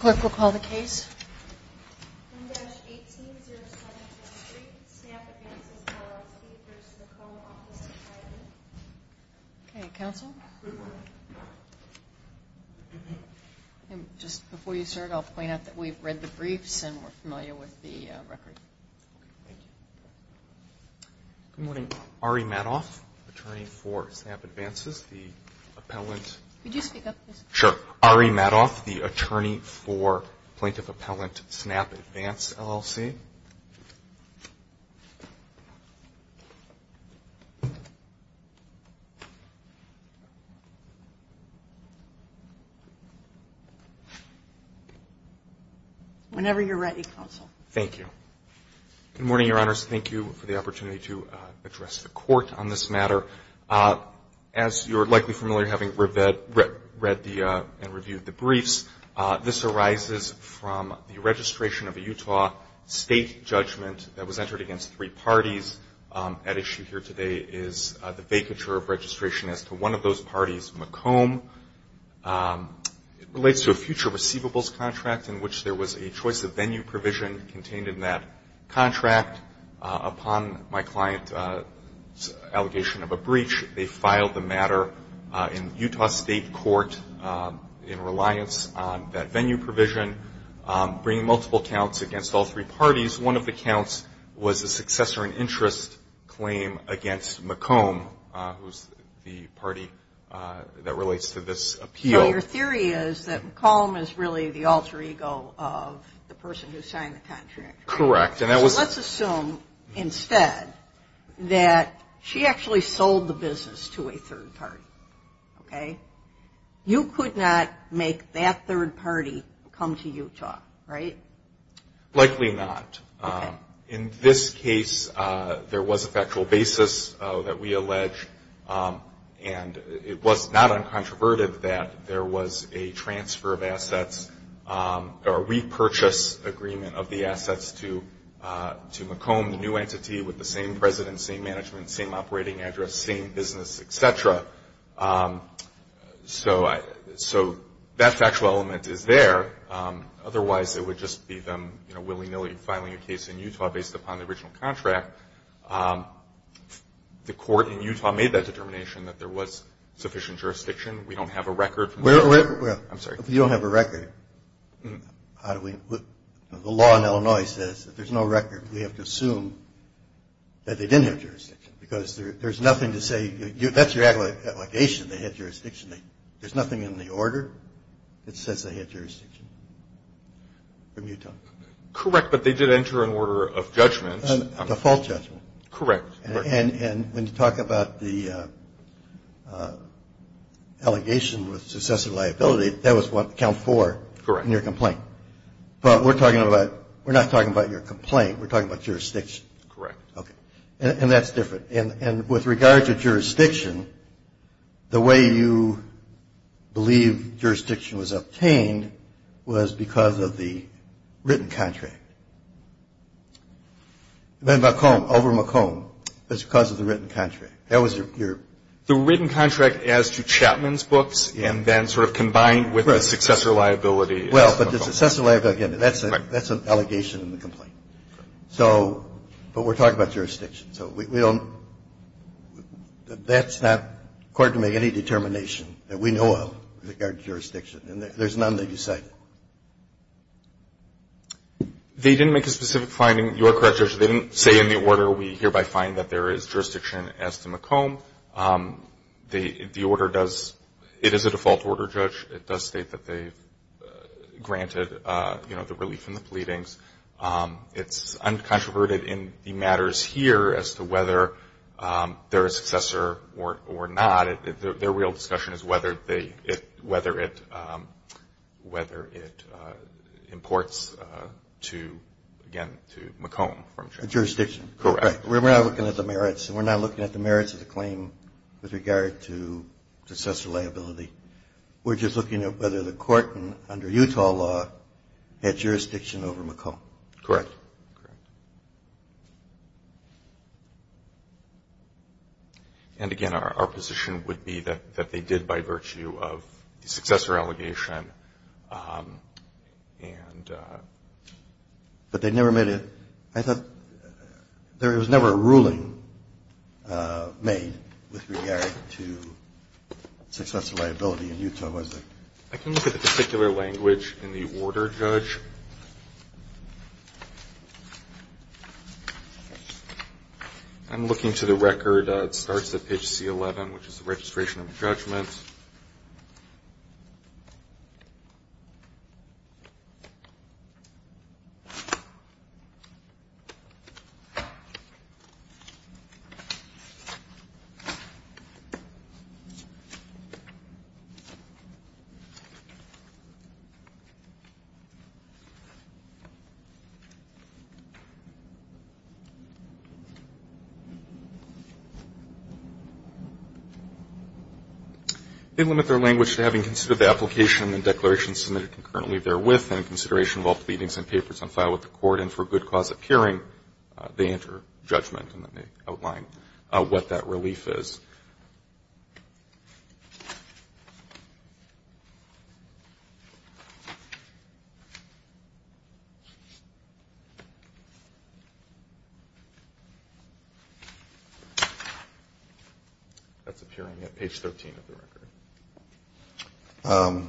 Clerk will call the case. M-18-0223, Snap Advances LLC v. Macomb Office Supply, Inc. Okay, counsel. Just before you start, I'll point out that we've read the briefs and we're familiar with the record. Good morning. Ari Madoff, attorney for Snap Advances, the appellant. Could you speak up, please? Sure. Ari Madoff, the attorney for Plaintiff Appellant, Snap Advances, LLC. Whenever you're ready, counsel. Thank you. Good morning, Your Honors. Thank you for the opportunity to address the Court on this matter. As you're likely familiar, having read and reviewed the briefs, this arises from the registration of a Utah state judgment that was entered against three parties. At issue here today is the vacature of registration as to one of those parties, Macomb. It relates to a future receivables contract in which there was a choice of venue provision contained in that contract. Upon my client's allegation of a breach, they filed the matter in Utah State Court in reliance on that venue provision, bringing multiple counts against all three parties. One of the counts was a successor in interest claim against Macomb, who's the party that relates to this appeal. Your theory is that Macomb is really the alter ego of the person who signed the contract. Correct. Let's assume instead that she actually sold the business to a third party, okay? You could not make that third party come to Utah, right? Likely not. In this case, there was a factual basis that we allege, and it was not uncontroverted that there was a transfer of assets or repurchase agreement of the assets to Macomb, the new entity, with the same president, same management, same operating address, same business, et cetera. So that factual element is there. Otherwise, it would just be them willy-nilly filing a case in Utah based upon the original contract. The court in Utah made that determination that there was sufficient jurisdiction. We don't have a record. I'm sorry. If you don't have a record, the law in Illinois says if there's no record, we have to assume that they didn't have jurisdiction, because there's nothing to say. That's your allegation, they had jurisdiction. There's nothing in the order that says they had jurisdiction from Utah. Correct, but they did enter an order of judgment. A default judgment. Correct. And when you talk about the allegation with successive liability, that was what, count four in your complaint. Correct. But we're not talking about your complaint. We're talking about jurisdiction. Correct. Okay. And that's different. And with regard to jurisdiction, the way you believe jurisdiction was obtained was because of the written contract. Then McComb, over McComb, it's because of the written contract. That was your. The written contract as to Chapman's books and then sort of combined with the successor liability. Well, but the successor liability, again, that's an allegation in the complaint. So, but we're talking about jurisdiction. So we don't, that's not, according to me, any determination that we know of with regard to jurisdiction. And there's none that you cited. They didn't make a specific finding. You are correct, Judge. They didn't say in the order, we hereby find that there is jurisdiction as to McComb. The order does, it is a default order, Judge. It does state that they've granted, you know, the relief from the pleadings. It's uncontroverted in the matters here as to whether they're a successor or not. Their real discussion is whether it imports to, again, to McComb. Jurisdiction. Correct. We're not looking at the merits. We're not looking at the merits of the claim with regard to successor liability. We're just looking at whether the court, under Utah law, had jurisdiction over McComb. Correct. And, again, our position would be that they did by virtue of the successor allegation. But they never made a, I thought there was never a ruling made with regard to successor liability. In Utah, was there? I can look at the particular language in the order, Judge. I'm looking to the record. It starts at page C11, which is the registration of the judgment. They limit their language to having considered the application and declaration submitted concurrently therewith and in consideration of all pleadings and papers on file with the court, and for good cause of hearing, they enter judgment, and then they outline what that relief is. That's appearing at page 13 of the record.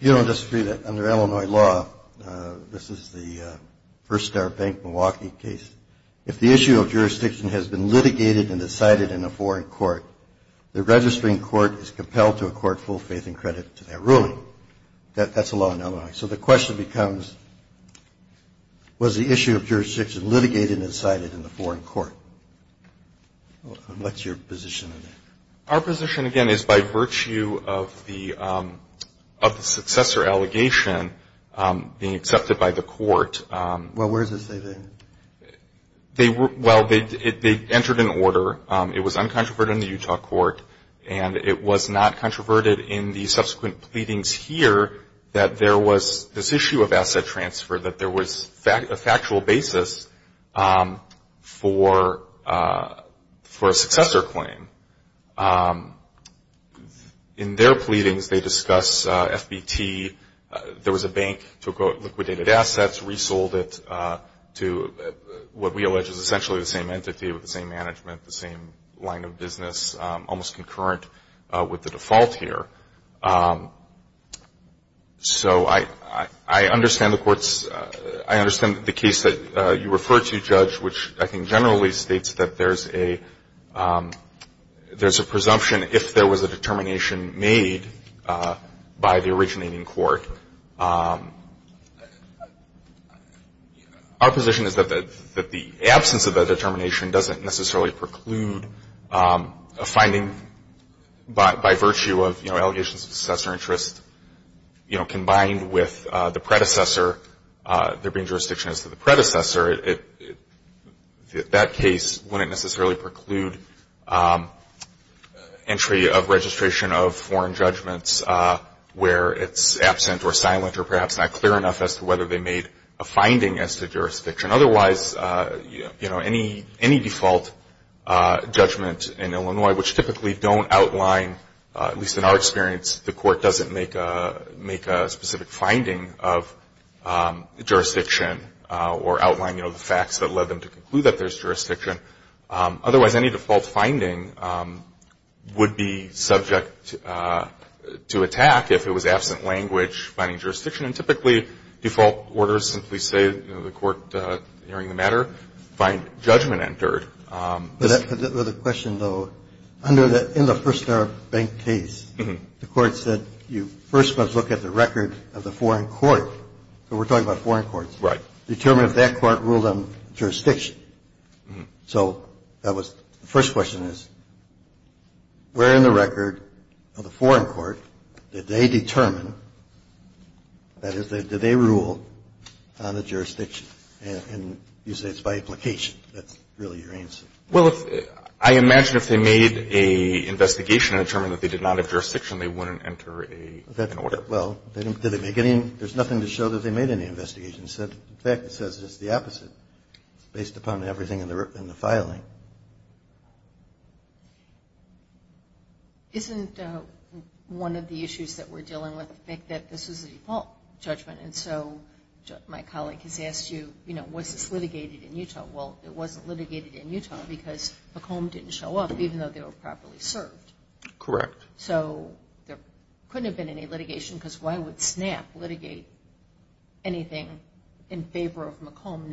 If you don't disagree that under Illinois law, this is the First Star Bank, Milwaukee case, if the issue of jurisdiction has been litigated and decided in a foreign court, the registering court is compelled to accord full faith and credit to that ruling. That's a law in Illinois. So the question becomes, was the issue of jurisdiction litigated and decided in a foreign court? What's your position on that? Our position, again, is by virtue of the successor allegation being accepted by the court. Well, where does it say that? Well, they entered an order. It was uncontroverted in the Utah court, and it was not controverted in the subsequent pleadings here that there was this issue of asset transfer, that there was a factual basis for a successor claim. In their pleadings, they discuss FBT. There was a bank that took liquidated assets, resold it to what we allege is essentially the same entity with the same management, the same line of business, almost concurrent with the default here. So I understand the court's – I understand the case that you refer to, Judge, which I think generally states that there's a presumption if there was a determination made by the originating court. Our position is that the absence of that determination doesn't necessarily preclude a finding by virtue of, you know, allegations of successor interest, you know, combined with the predecessor, there being jurisdiction as to the predecessor. That case wouldn't necessarily preclude entry of registration of foreign judgments where it's absent or silent or perhaps not clear enough as to whether they made a finding as to jurisdiction. Otherwise, you know, any default judgment in Illinois, which typically don't outline, at least in our experience, the court doesn't make a specific finding of jurisdiction or outline, you know, the facts that led them to conclude that there's jurisdiction. Otherwise, any default finding would be subject to attack if it was absent language finding jurisdiction. And typically, default orders simply say, you know, the court hearing the matter, find judgment entered. Another question, though. In the First Arab Bank case, the court said you first must look at the record of the foreign court. So we're talking about foreign courts. Right. Determine if that court ruled on jurisdiction. So that was the first question is, where in the record of the foreign court did they determine, that is, did they rule on the jurisdiction? And you say it's by implication. That's really your answer. Well, I imagine if they made an investigation and determined that they did not have jurisdiction, they wouldn't enter an order. Well, there's nothing to show that they made any investigation. In fact, it says it's the opposite, based upon everything in the filing. Isn't one of the issues that we're dealing with the fact that this is a default judgment? And so my colleague has asked you, you know, was this litigated in Utah? Well, it wasn't litigated in Utah because the comb didn't show up, even though they were properly served. Correct. So there couldn't have been any litigation because why would SNAP litigate anything in favor of McComb,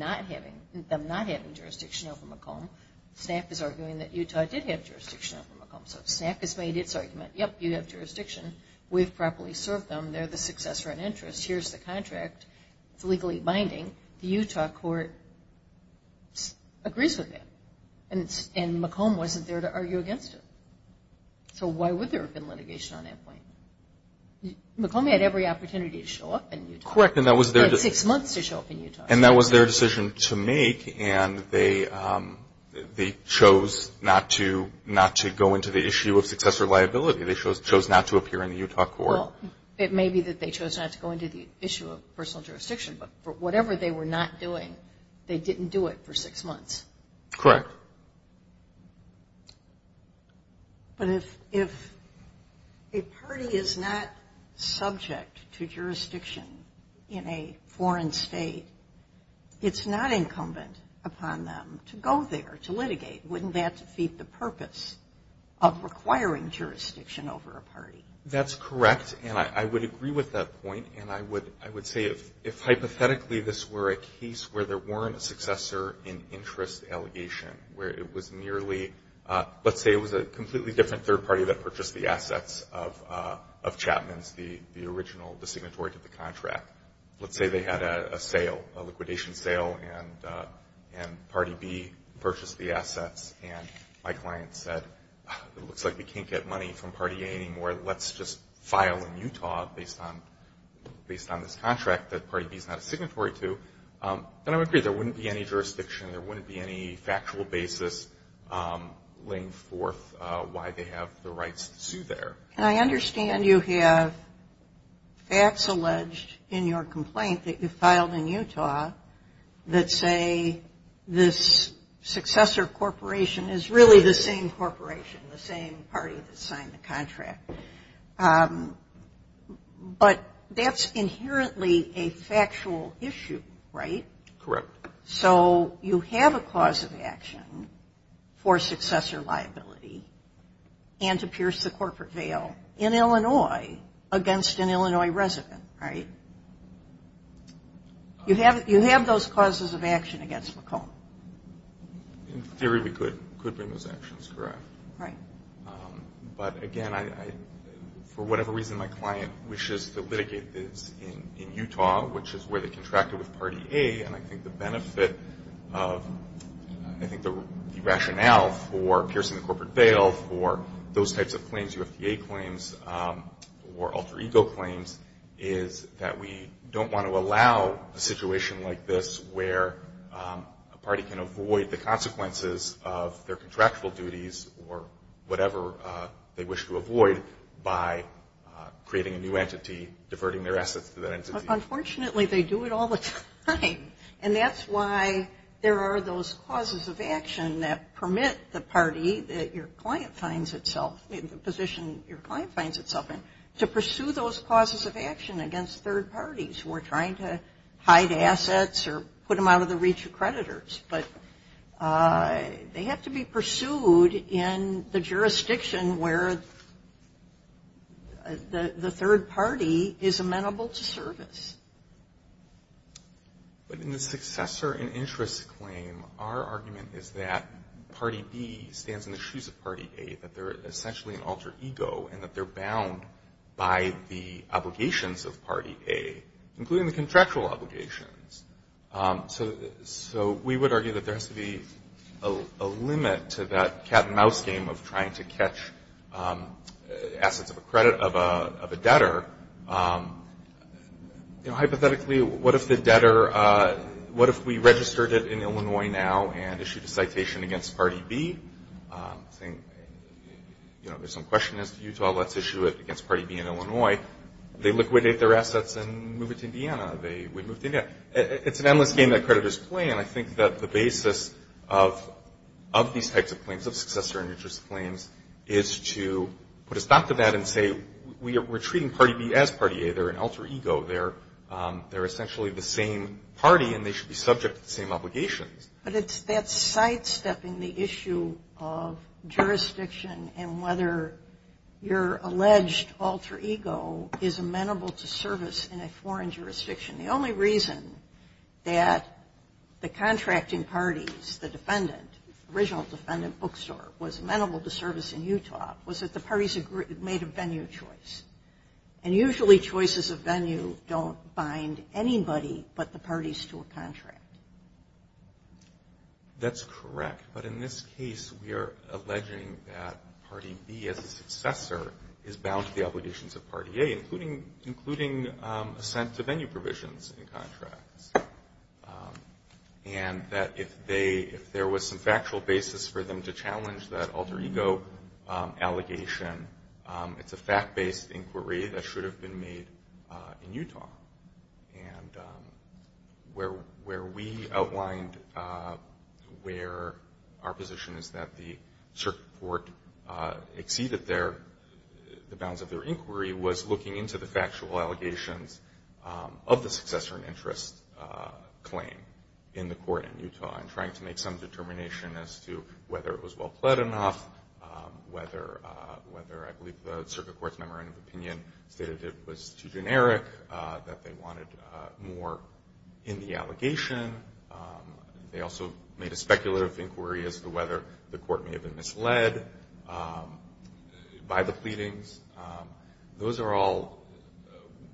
them not having jurisdiction over McComb? SNAP is arguing that Utah did have jurisdiction over McComb. So SNAP has made its argument, yep, you have jurisdiction. We've properly served them. They're the successor in interest. Here's the contract. It's legally binding. The Utah court agrees with that. And McComb wasn't there to argue against it. So why would there have been litigation on that point? McComb had every opportunity to show up in Utah. Correct, and that was their decision. They had six months to show up in Utah. And that was their decision to make, and they chose not to go into the issue of successor liability. They chose not to appear in the Utah court. Well, it may be that they chose not to go into the issue of personal jurisdiction, but for whatever they were not doing, they didn't do it for six months. Correct. But if a party is not subject to jurisdiction in a foreign state, it's not incumbent upon them to go there to litigate. Wouldn't that defeat the purpose of requiring jurisdiction over a party? That's correct, and I would agree with that point. And I would say if hypothetically this were a case where there weren't a successor in interest allegation, where it was merely, let's say it was a completely different third party that purchased the assets of Chapman's, the original designatory to the contract. Let's say they had a sale, a liquidation sale, and Party B purchased the assets, and my client said, it looks like we can't get money from Party A anymore. Let's just file in Utah based on this contract that Party B is not a signatory to. And I would agree there wouldn't be any jurisdiction, there wouldn't be any factual basis laying forth why they have the rights to sue there. And I understand you have facts alleged in your complaint that you filed in Utah that say this successor corporation is really the same corporation, the same party that signed the contract. But that's inherently a factual issue, right? Correct. So you have a cause of action for successor liability and to pierce the corporate veil in Illinois against an Illinois resident, right? You have those causes of action against McComb? In theory we could bring those actions, correct. Right. But, again, for whatever reason my client wishes to litigate this in Utah, which is where they contracted with Party A, and I think the benefit of, I think the rationale for piercing the corporate veil for those types of claims, UFDA claims or alter ego claims, is that we don't want to allow a situation like this where a party can avoid the consequences of their contractual duties or whatever they wish to avoid by creating a new entity, diverting their assets to that entity. Unfortunately they do it all the time. And that's why there are those causes of action that permit the party that your client finds itself, the position your client finds itself in, to pursue those causes of action against third parties who are trying to hide assets or put them out of the reach of creditors. But they have to be pursued in the jurisdiction where the third party is amenable to service. But in the successor and interest claim, our argument is that Party B stands in the shoes of Party A, that they're essentially an alter ego and that they're bound by the obligations of Party A, including the contractual obligations. So we would argue that there has to be a limit to that cat and mouse game of trying to catch assets of a debtor. You know, hypothetically, what if the debtor, what if we registered it in Illinois now and issued a citation against Party B, saying, you know, there's some question as to Utah, let's issue it against Party B in Illinois. They liquidate their assets and move it to Indiana. It's an endless game that creditors play. And I think that the basis of these types of claims, of successor and interest claims, is to put a stop to that and say we're treating Party B as Party A. They're an alter ego. They're essentially the same party and they should be subject to the same obligations. But it's that sidestepping the issue of jurisdiction and whether your alleged alter ego is amenable to service in a foreign jurisdiction. The only reason that the contracting parties, the defendant, the original defendant bookstore was amenable to service in Utah was that the parties made a venue choice. And usually choices of venue don't bind anybody but the parties to a contract. That's correct. But in this case, we are alleging that Party B as a successor is bound to the obligations of Party A, including assent to venue provisions in contracts. And that if there was some factual basis for them to challenge that alter ego allegation, it's a fact-based inquiry that should have been made in Utah. And where we outlined where our position is that the circuit court exceeded the bounds of their inquiry was looking into the factual allegations of the successor in interest claim in the court in Utah and trying to make some determination as to whether it was well pled enough, whether I believe the circuit court's memorandum of opinion stated it was too generic, that they wanted more in the allegation. They also made a speculative inquiry as to whether the court may have been misled by the pleadings. Those are all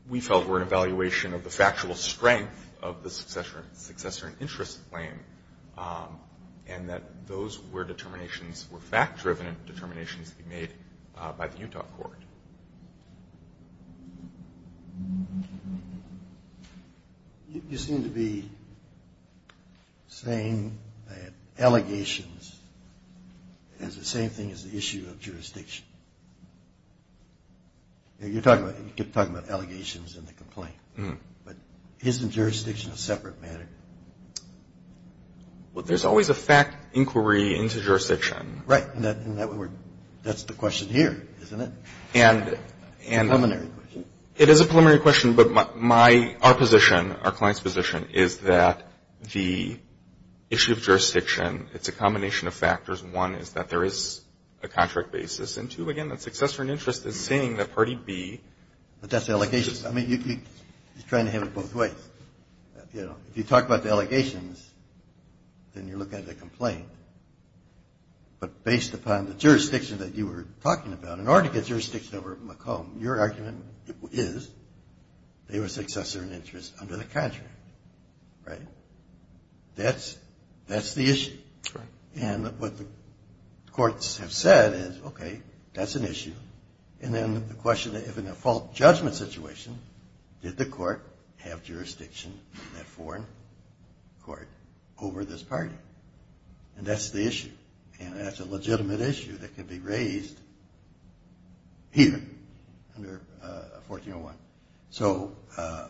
we felt were an evaluation of the factual strength of the successor in interest claim and that those were determinations were fact-driven determinations made by the Utah court. You seem to be saying that allegations is the same thing as the issue of jurisdiction. You're talking about allegations in the complaint. But isn't jurisdiction a separate matter? Well, there's always a fact inquiry into jurisdiction. Right. And that's the question here, isn't it? It's a preliminary question. It is a preliminary question, but our position, our client's position, is that the issue of jurisdiction, it's a combination of factors. One is that there is a contract basis. And, two, again, the successor in interest is saying that party B. But that's the allegations. I mean, you keep trying to have it both ways. You know, if you talk about the allegations, then you're looking at the complaint. But based upon the jurisdiction that you were talking about, in order to get jurisdiction over McComb, your argument is they were successor in interest under the contract. Right? That's the issue. Right. And what the courts have said is, okay, that's an issue. And then the question, if in a fault judgment situation, did the court have jurisdiction in that foreign court over this party? Right? And that's the issue. And that's a legitimate issue that can be raised here under 1401. So, I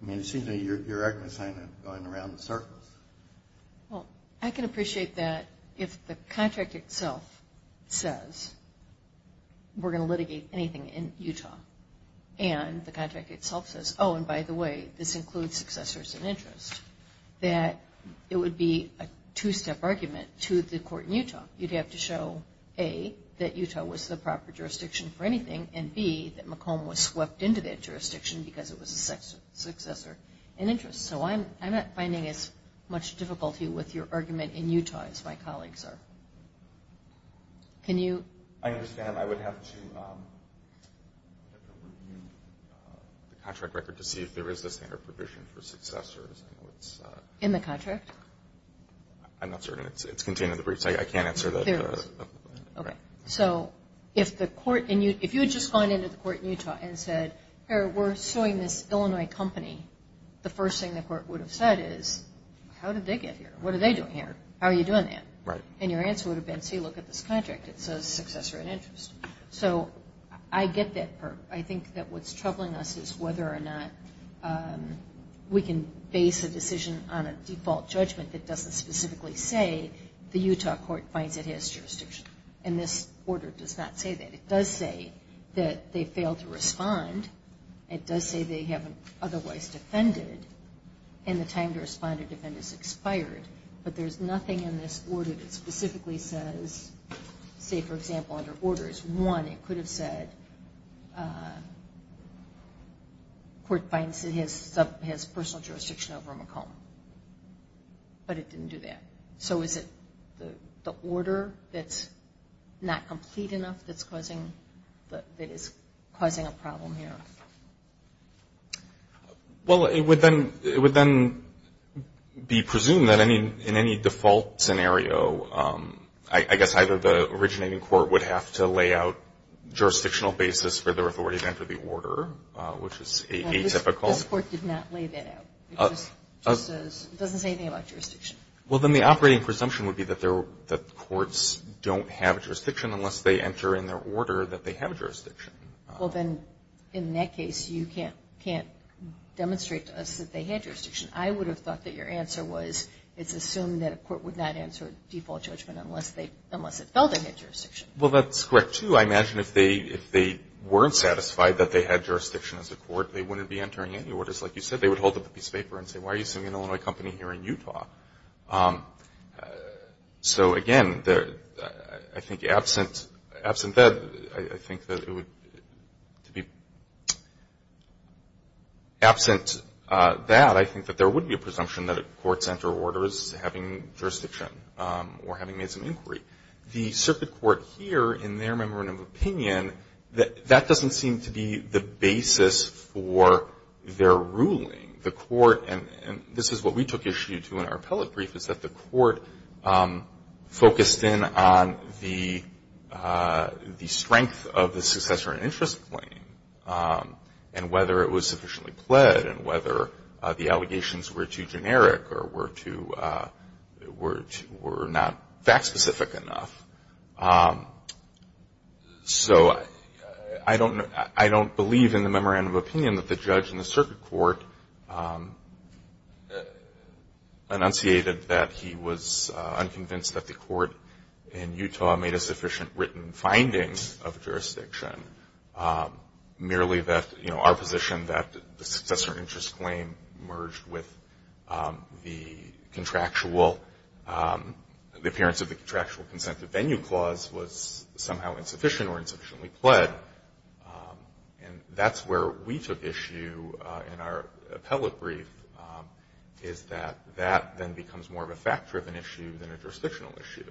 mean, it seems that your argument is kind of going around in circles. Well, I can appreciate that if the contract itself says we're going to litigate anything in Utah, and the contract itself says, oh, and by the way, this includes successor in interest, that it would be a two-step argument to the court in Utah. You'd have to show, A, that Utah was the proper jurisdiction for anything, and, B, that McComb was swept into that jurisdiction because it was a successor in interest. So I'm not finding as much difficulty with your argument in Utah as my colleagues are. Can you? I understand. I would have to review the contract record to see if there is a standard provision for successors. In the contract? I'm not certain. It's contained in the briefs. I can't answer that. There is. Okay. So if you had just gone into the court in Utah and said, here, we're suing this Illinois company, the first thing the court would have said is, how did they get here? What are they doing here? How are you doing that? Right. And your answer would have been, see, look at this contract. It says successor in interest. So I get that. I think that what's troubling us is whether or not we can base a decision on a default judgment that doesn't specifically say the Utah court finds it has jurisdiction. And this order does not say that. It does say that they failed to respond. It does say they haven't otherwise defended, and the time to respond or defend is expired. But there's nothing in this order that specifically says, say, for example, under orders, one, it could have said court finds it has personal jurisdiction over McComb. But it didn't do that. So is it the order that's not complete enough that is causing a problem here? Well, it would then be presumed that in any default scenario, I guess either the originating court would have to lay out jurisdictional basis for their authority to enter the order, which is atypical. This court did not lay that out. It doesn't say anything about jurisdiction. Well, then the operating presumption would be that the courts don't have jurisdiction unless they enter in their order that they have jurisdiction. Well, then in that case, you can't demonstrate to us that they had jurisdiction. I would have thought that your answer was it's assumed that a court would not answer default judgment unless it felt they had jurisdiction. Well, that's correct, too. I imagine if they weren't satisfied that they had jurisdiction as a court, they wouldn't be entering any orders. Like you said, they would hold up a piece of paper and say, why are you sending an Illinois company here in Utah? So, again, I think absent that, I think that there would be a presumption that courts enter orders having jurisdiction or having made some inquiry. The circuit court here, in their memorandum of opinion, that doesn't seem to be the basis for their ruling. The court, and this is what we took issue to in our appellate brief, is that the court focused in on the strength of the successor and interest claim and whether it was sufficiently pled and whether the allegations were too generic or were too, were not fact-specific enough. So I don't believe in the memorandum of opinion that the judge and the circuit court enunciated that he was unconvinced that the court in Utah made a sufficient written finding of jurisdiction. Merely that our position that the successor interest claim merged with the contractual, the appearance of the contractual consent to venue clause was somehow insufficient or insufficiently pled. And that's where we took issue in our appellate brief, is that that then becomes more of a fact-driven issue than a jurisdictional issue.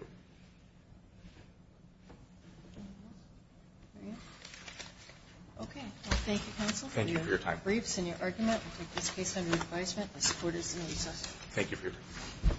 Okay. Well, thank you, counsel. Thank you for your time. For your briefs and your argument. We take this case under advisement. This court is in recess. Thank you for your time.